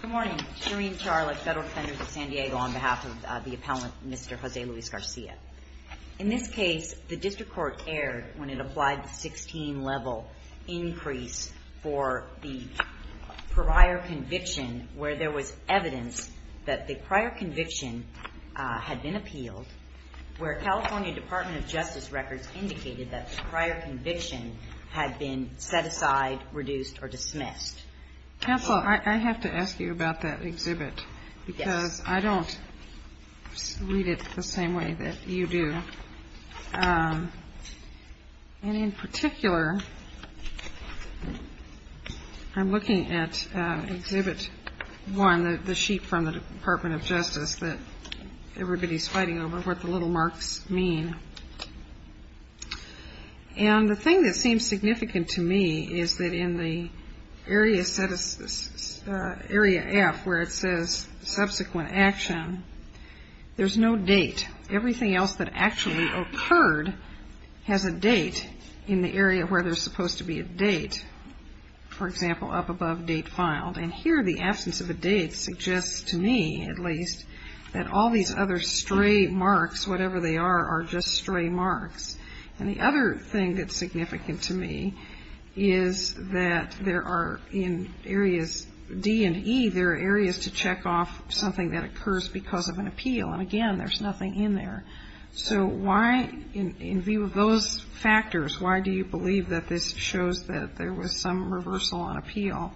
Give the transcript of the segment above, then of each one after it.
Good morning. Shereen Charlotte, Federal Defender of San Diego on behalf of the Appellant, Mr. Jose Luis Garcia. In this case, the District Court erred when it applied the 16-level increase for the prior conviction where there was evidence that the prior conviction had been appealed, where California Department of Justice records indicated that the prior conviction had been set aside, reduced, or dismissed. MS. GARCIA Counsel, I have to ask you about that exhibit because I don't read it the same way that you do. And in particular, I'm looking at Exhibit 1, the sheet from the Department of Justice that everybody's fighting over, what the little marks mean. And the thing that seems significant to me is that in the area F where it says subsequent action, there's no date. Everything else that actually occurred has a date in the area where there's supposed to be a date, for example, up above date filed. And here, the absence of a date suggests to me, at least, that all these other stray marks, whatever they are, are just stray marks. And the other thing that's significant to me is that there are, in areas D and E, there are areas to check off something that occurs because of an appeal. And again, there's nothing in there. So why, in view of those factors, why do you believe that this shows that there was some reversal on appeal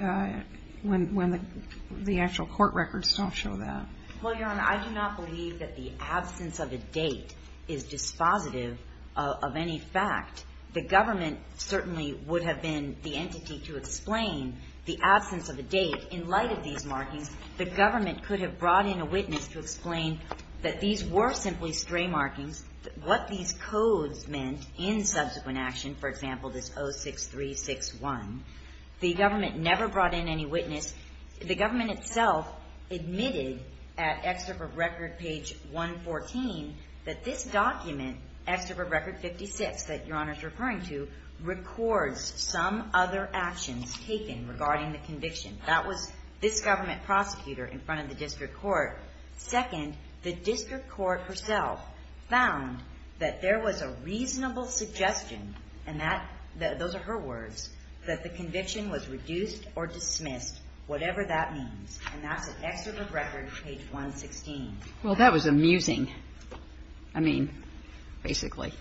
when the actual court records don't show that? Well, Your Honor, I do not believe that the absence of a date is dispositive of any fact. The government certainly would have been the entity to explain the absence of a date in light of these markings. The government could have brought in a witness to explain that these were simply stray markings, what these codes meant in subsequent action, for example, this 06361. The government never brought in any witness. The government itself admitted at Excerpt of Record, page 114, that this document, Excerpt of Record 56 that Your Honor is referring to, records some other actions taken regarding the conviction. That was this government prosecutor in front of the district court. Second, the district court herself found that there was a reasonable suggestion, and those are her words, that the conviction was reduced or dismissed, whatever that means. And that's at Excerpt of Record, page 116. Well, that was amusing. I mean, basically.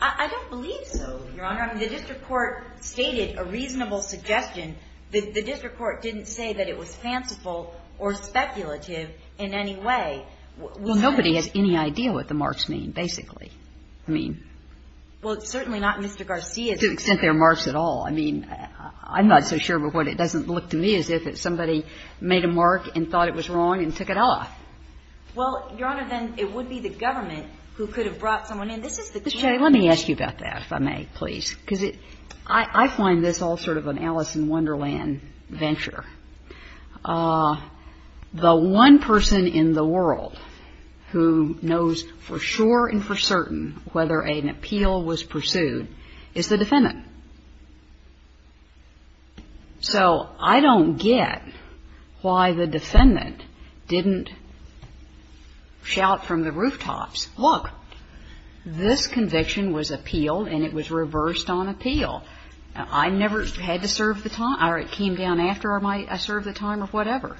I don't believe so, Your Honor. I mean, the district court stated a reasonable suggestion. The district court didn't say that it was fanciful or speculative in any way. Well, nobody has any idea what the marks mean, basically. I mean — Well, it's certainly not Mr. Garcia's — Well, to the extent there are marks at all. I mean, I'm not so sure of what it doesn't look to me as if somebody made a mark and thought it was wrong and took it off. Well, Your Honor, then it would be the government who could have brought someone in. This is the — Ms. Chay, let me ask you about that, if I may, please. Because it — I find this all sort of an Alice in Wonderland venture. The one person in the world who knows for sure and for certain whether an appeal was pursued is the defendant. So I don't get why the defendant didn't shout from the rooftops, look, this conviction was appealed and it was reversed on appeal. I never had to serve the time — or it came down after I served the time or whatever.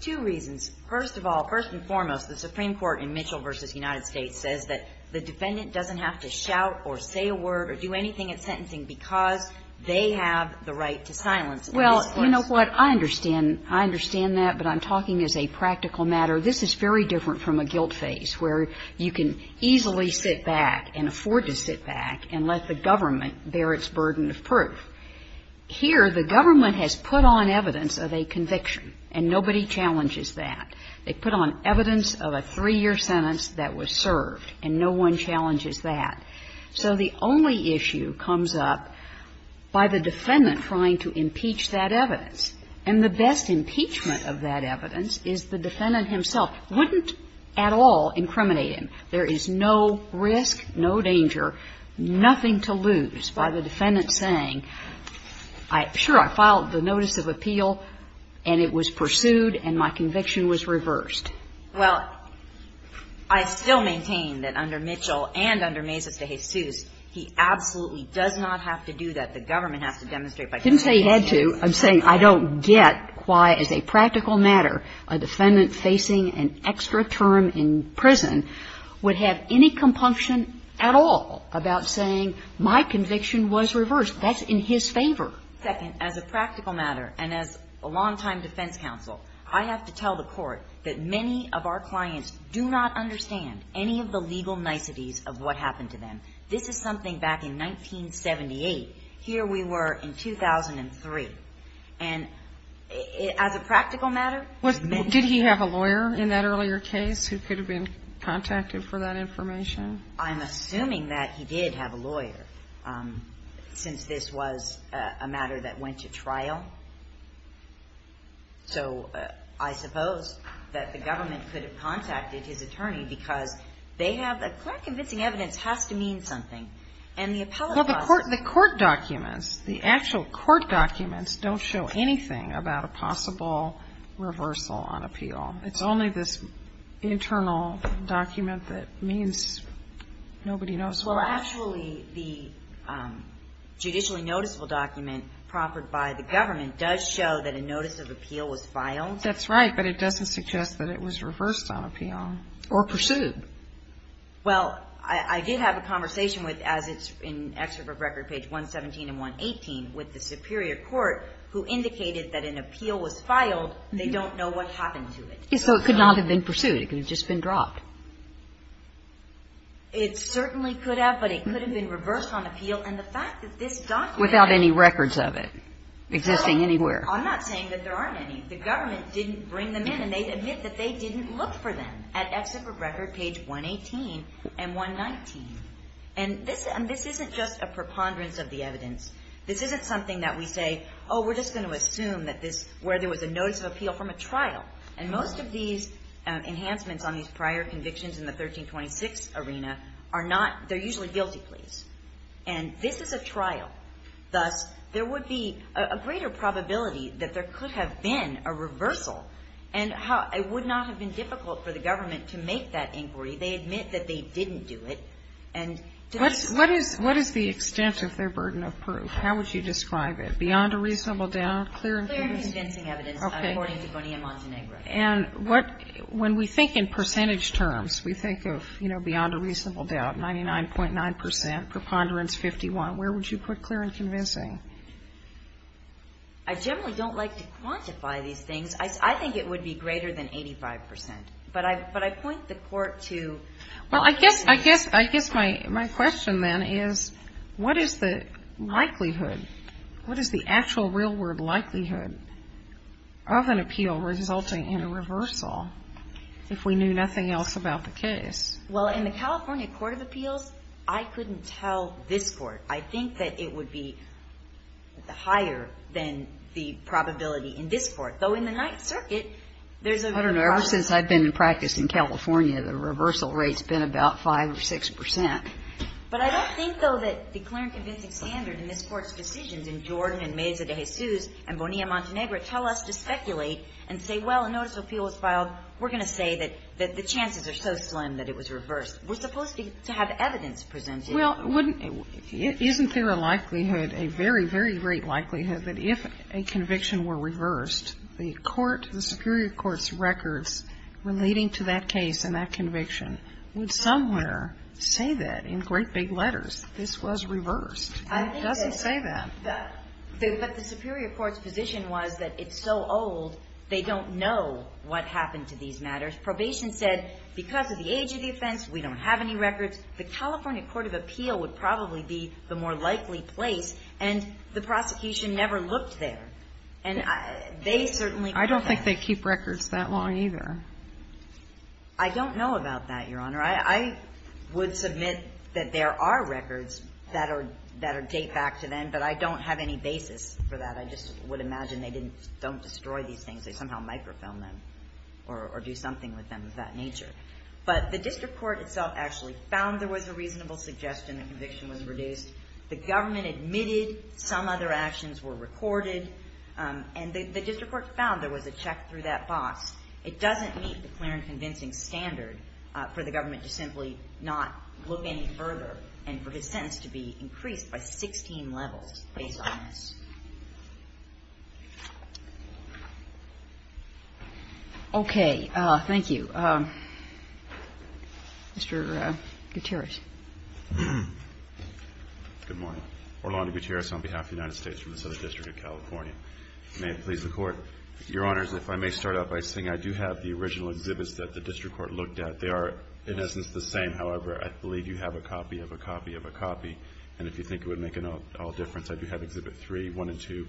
Two reasons. First of all, first and foremost, the Supreme Court in Mitchell v. United States says that the defendant doesn't have to shout or say a word or do anything at sentencing because they have the right to silence in this case. Well, you know what? I understand. I understand that, but I'm talking as a practical matter. This is very different from a guilt phase, where you can easily sit back and afford to sit back and let the government bear its burden of proof. Here, the government has put on evidence of a conviction, and nobody challenges that. They put on evidence of a three-year sentence that was served, and no one challenges that. So the only issue comes up by the defendant trying to impeach that evidence. And the best impeachment of that evidence is the defendant himself wouldn't at all incriminate him. There is no risk, no danger, nothing to lose by the defendant saying, sure, I filed the notice of appeal and it was pursued and my conviction was reversed. Well, I still maintain that under Mitchell and under Mesa v. Jesus, he absolutely does not have to do that. The government has to demonstrate by doing that. I didn't say he had to. I'm saying I don't get why, as a practical matter, a defendant facing an extra term in prison would have any compunction at all about saying, my conviction was reversed. That's in his favor. Second, as a practical matter, and as a longtime defense counsel, I have to tell the court that many of our clients do not understand any of the legal niceties of what happened to them. This is something back in 1978. Here we were in 2003. And as a practical matter, many of them... Did he have a lawyer in that earlier case who could have been contacted for that information? I'm assuming that he did have a lawyer, since this was a matter that went to trial. So I suppose that the government could have contacted his attorney because they have a clear convincing evidence has to mean something. And the appellate process... Well, the court documents, the actual court documents don't show anything about a possible reversal on appeal. It's only this internal document that means nobody knows why. Well, actually, the judicially noticeable document proffered by the government does show that a notice of appeal was filed. That's right, but it doesn't suggest that it was reversed on appeal or pursued. Well, I did have a conversation with, as it's in Excerpt of Record, page 117 and 118, with the superior court, who indicated that an appeal was filed. They don't know what happened to it. So it could not have been pursued. It could have just been dropped. It certainly could have, but it could have been reversed on appeal. And the fact that this document... Without any records of it existing anywhere. I'm not saying that there aren't any. The government didn't bring them in, and they admit that they didn't look for them at Excerpt of Record, page 118 and 119. And this isn't just a preponderance of the evidence. This isn't something that we say, oh, we're just going to assume that this, where there was a notice of conviction in the 1326 arena, are not, they're usually guilty pleas. And this is a trial. Thus, there would be a greater probability that there could have been a reversal, and it would not have been difficult for the government to make that inquiry. They admit that they didn't do it. What is the extent of their burden of proof? How would you describe it? Beyond a reasonable doubt? Clear and convincing evidence, according to Bonilla-Montenegro. And what, when we think in percentage terms, we think of, you know, beyond a reasonable doubt, 99.9 percent, preponderance 51, where would you put clear and convincing? I generally don't like to quantify these things. I think it would be greater than 85 percent. But I point the Court to... Well, I guess my question, then, is what is the likelihood, what is the actual real-world likelihood of an appeal resulting in a reversal if we knew nothing else about the case? Well, in the California Court of Appeals, I couldn't tell this Court. I think that it would be higher than the probability in this Court, though in the Ninth Circuit there's a... I don't know. Ever since I've been in practice in California, the reversal rate's been about 5 or 6 percent. But I don't think, though, that the clear and convincing standard in this Court's decisions in Jordan and Meza de Jesus and Bonilla-Montenegro tell us to speculate and say, well, a notice of appeal was filed. We're going to say that the chances are so slim that it was reversed. We're supposed to have evidence presented. Well, wouldn't you? Isn't there a likelihood, a very, very great likelihood that if a conviction were reversed, the court, the superior court's records relating to that case and that conviction would somewhere say that in great big letters this was reversed? And it doesn't say that. But the superior court's position was that it's so old they don't know what happened to these matters. Probation said because of the age of the offense, we don't have any records. The California Court of Appeal would probably be the more likely place, and the prosecution never looked there. And they certainly... I don't think they keep records that long either. I don't know about that, Your Honor. I would submit that there are records that are, that are date back to then, but I don't have any basis for that. I just would imagine they didn't, don't destroy these things. They somehow microfilm them or do something with them of that nature. But the district court itself actually found there was a reasonable suggestion the conviction was reduced. The government admitted some other actions were recorded. And the district court found there was a check through that box. It doesn't meet the clear and convincing standard for the government to simply not look any further and for his sentence to be increased by 16 levels based on this. Okay. Thank you. Mr. Gutierrez. Good morning. Orlando Gutierrez on behalf of the United States from the Southern California. May it please the Court. Your Honors, if I may start out by saying I do have the original exhibits that the district court looked at. They are in essence the same. However, I believe you have a copy of a copy of a copy. And if you think it would make an all difference, I do have Exhibit 3, 1, and 2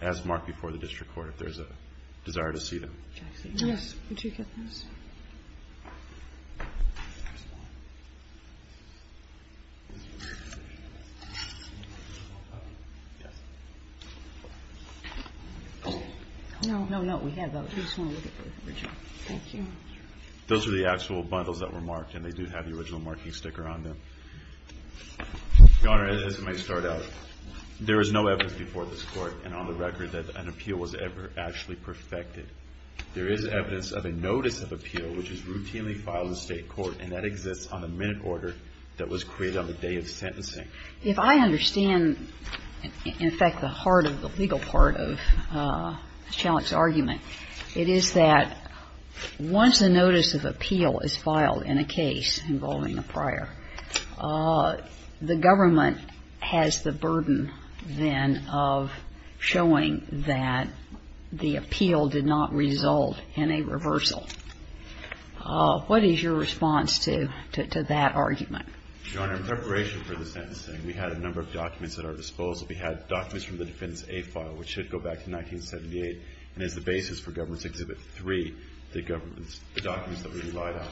as marked before the district court if there is a desire to see them. Yes. Would you get those? Those are the actual bundles that were marked. And they do have the original marking sticker on them. Your Honor, as it may start out, there is no evidence before this Court and on the record that an appeal was ever actually perfected. There is evidence of a notice of appeal which is routinely filed in State court and that exists on the minute order that was created on the day of sentencing. If I understand, in effect, the heart of the legal part of the challenge argument, it is that once a notice of appeal is filed in a case involving a prior, the government has the burden then of showing that the appeal did not result in a reversal. What is your response to that argument? Your Honor, in preparation for the sentencing, we had a number of documents at our disposal. We had documents from the Defendant's A file which should go back to 1978 and is the basis for Government's Exhibit 3, the government's documents that we relied on.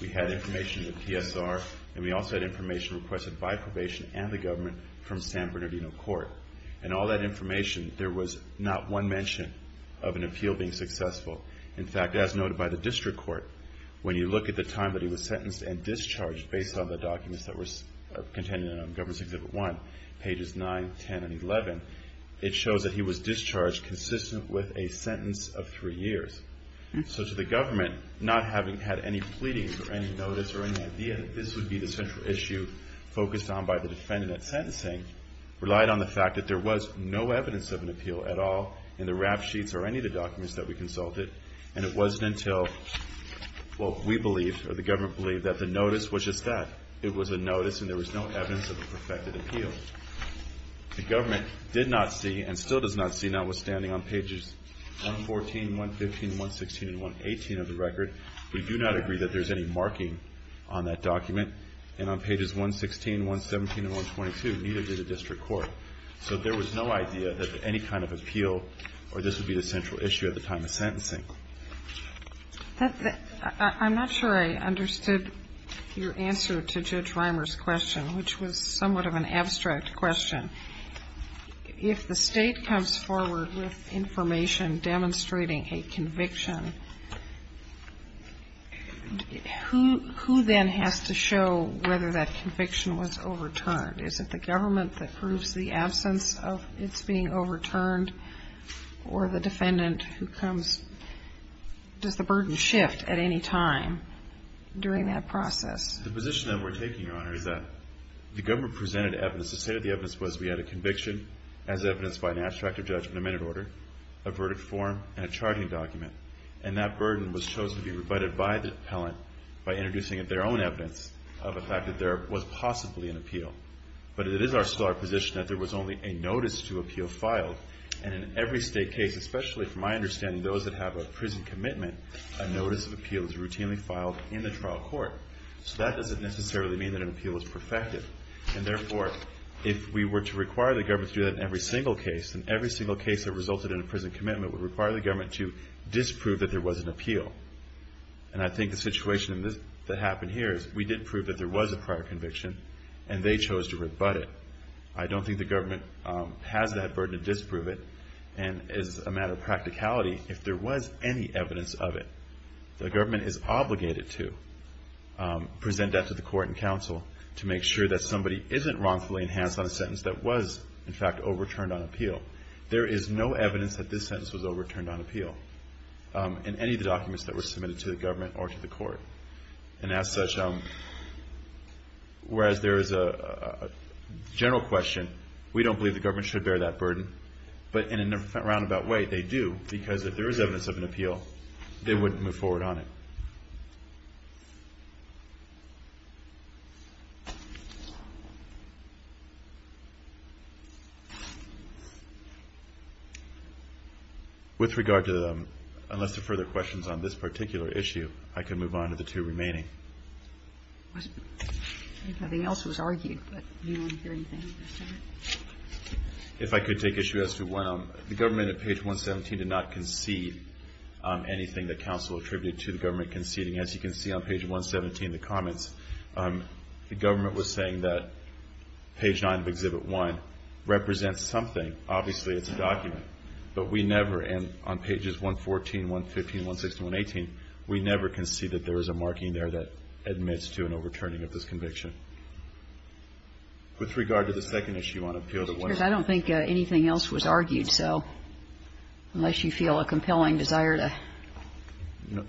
We had information in the PSR and we also had information requested by probation and the government from San Bernardino Court. In all that information, there was not one mention of an appeal being successful. In fact, as noted by the District Court, when you look at the time that he was sentenced and discharged based on the documents that were contained in Government's Exhibit 1, pages 9, 10, and 11, it shows that he was discharged consistent with a sentence of three years. So to the government, not having had any pleadings or any notice or any idea that this would be the central issue focused on by the defendant at sentencing, relied on the fact that there was no evidence of an appeal at all in the rap sheets or any of the documents that we consulted and it wasn't until, well, we believed or the government believed that the notice was just that. It was a notice and there was no evidence of a perfected appeal. The government did not see and still does not see, notwithstanding on pages 114, 115, 116, and 118 of the record, we do not agree that there's any marking on that document and on pages 116, 117, and 122, neither did the District Court. So there was no idea that any kind of appeal or this would be the central issue at the time of sentencing. I'm not sure I understood your answer to Judge Reimer's question, which was somewhat of an abstract question. If the state comes forward with information demonstrating a conviction, who then has to show whether that conviction was overturned? Is it the government that proves the absence of its being overturned or the defendant who comes? Does the burden shift at any time during that process? The position that we're taking, Your Honor, is that the government presented evidence. The state of the evidence was we had a conviction as evidenced by an abstract or judgment of minute order, a verdict form, and a charting document. And that burden was chosen to be rebutted by the appellant by introducing their own evidence of the fact that there was possibly an appeal. But it is our position that there was only a notice to appeal filed. And in every state case, especially from my understanding, those that have a prison commitment, a notice of appeal is routinely filed in the trial court. So that doesn't necessarily mean that an appeal is perfected. And therefore, if we were to require the government to do that in every single case, then every single case that resulted in a prison commitment would require the government to disprove that there was an appeal. And I think the situation that happened here is we did prove that there was a prior conviction, and they chose to rebut it. I don't think the government has that burden to disprove it. And as a matter of practicality, if there was any evidence of it, the government is obligated to present that to the court and council to make sure that somebody isn't wrongfully enhanced on a sentence that was, in fact, overturned on appeal. There is no evidence that this sentence was overturned on appeal in any of the documents that were submitted to the government or to the court. And as such, whereas there is a general question, we don't believe the government should bear that burden. But in a roundabout way, they do, because if there is evidence of an appeal, they wouldn't move forward on it. With regard to the unless there are further questions on this particular issue, I can move on to the two remaining. Nothing else was argued, but do you want to hear anything? If I could take issue as to one. The government at page 117 did not concede anything that counsel attributed to the government conceding. As you can see on page 117, the comments, the government was saying that page 9 of Exhibit 1 represents something. Obviously, it's a document. But we never, and on pages 114, 115, 116, 118, we never concede that there is a marking there that admits to an overturning of this conviction. With regard to the second issue on appeal that went on. I don't think anything else was argued. So unless you feel a compelling desire to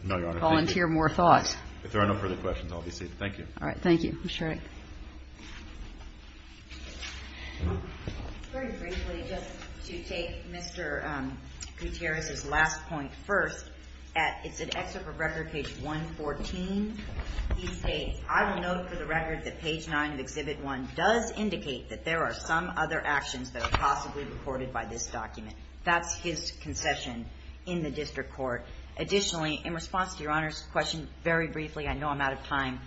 volunteer more thoughts. If there are no further questions, I'll be seated. Thank you. Thank you. Ms. Shraddick. Very briefly, just to take Mr. Gutierrez's last point first. It's an excerpt of record page 114. He states, I will note for the record that page 9 of Exhibit 1 does indicate that there are some other actions that are possibly reported by this document. That's his concession in the district court. Additionally, in response to Your Honor's question very briefly, I know I'm out of time,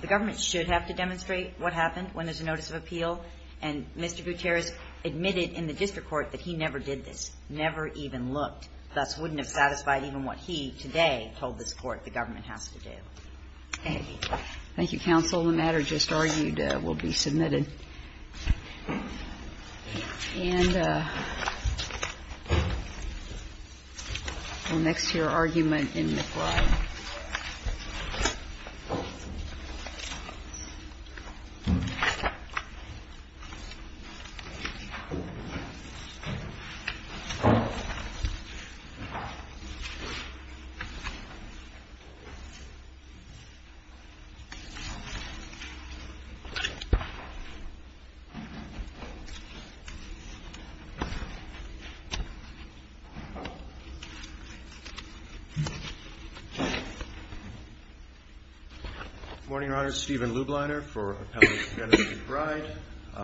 the government should have to demonstrate what happened when there's a notice of appeal, and Mr. Gutierrez admitted in the district court that he never did this, never even looked. Thus, wouldn't have satisfied even what he today told this Court the government has to do. Thank you. Thank you, counsel. The matter just argued will be submitted. And next to your argument in the fly. Thank you. Good morning, Your Honor. Stephen Lubliner for Appellate Administrative Bride.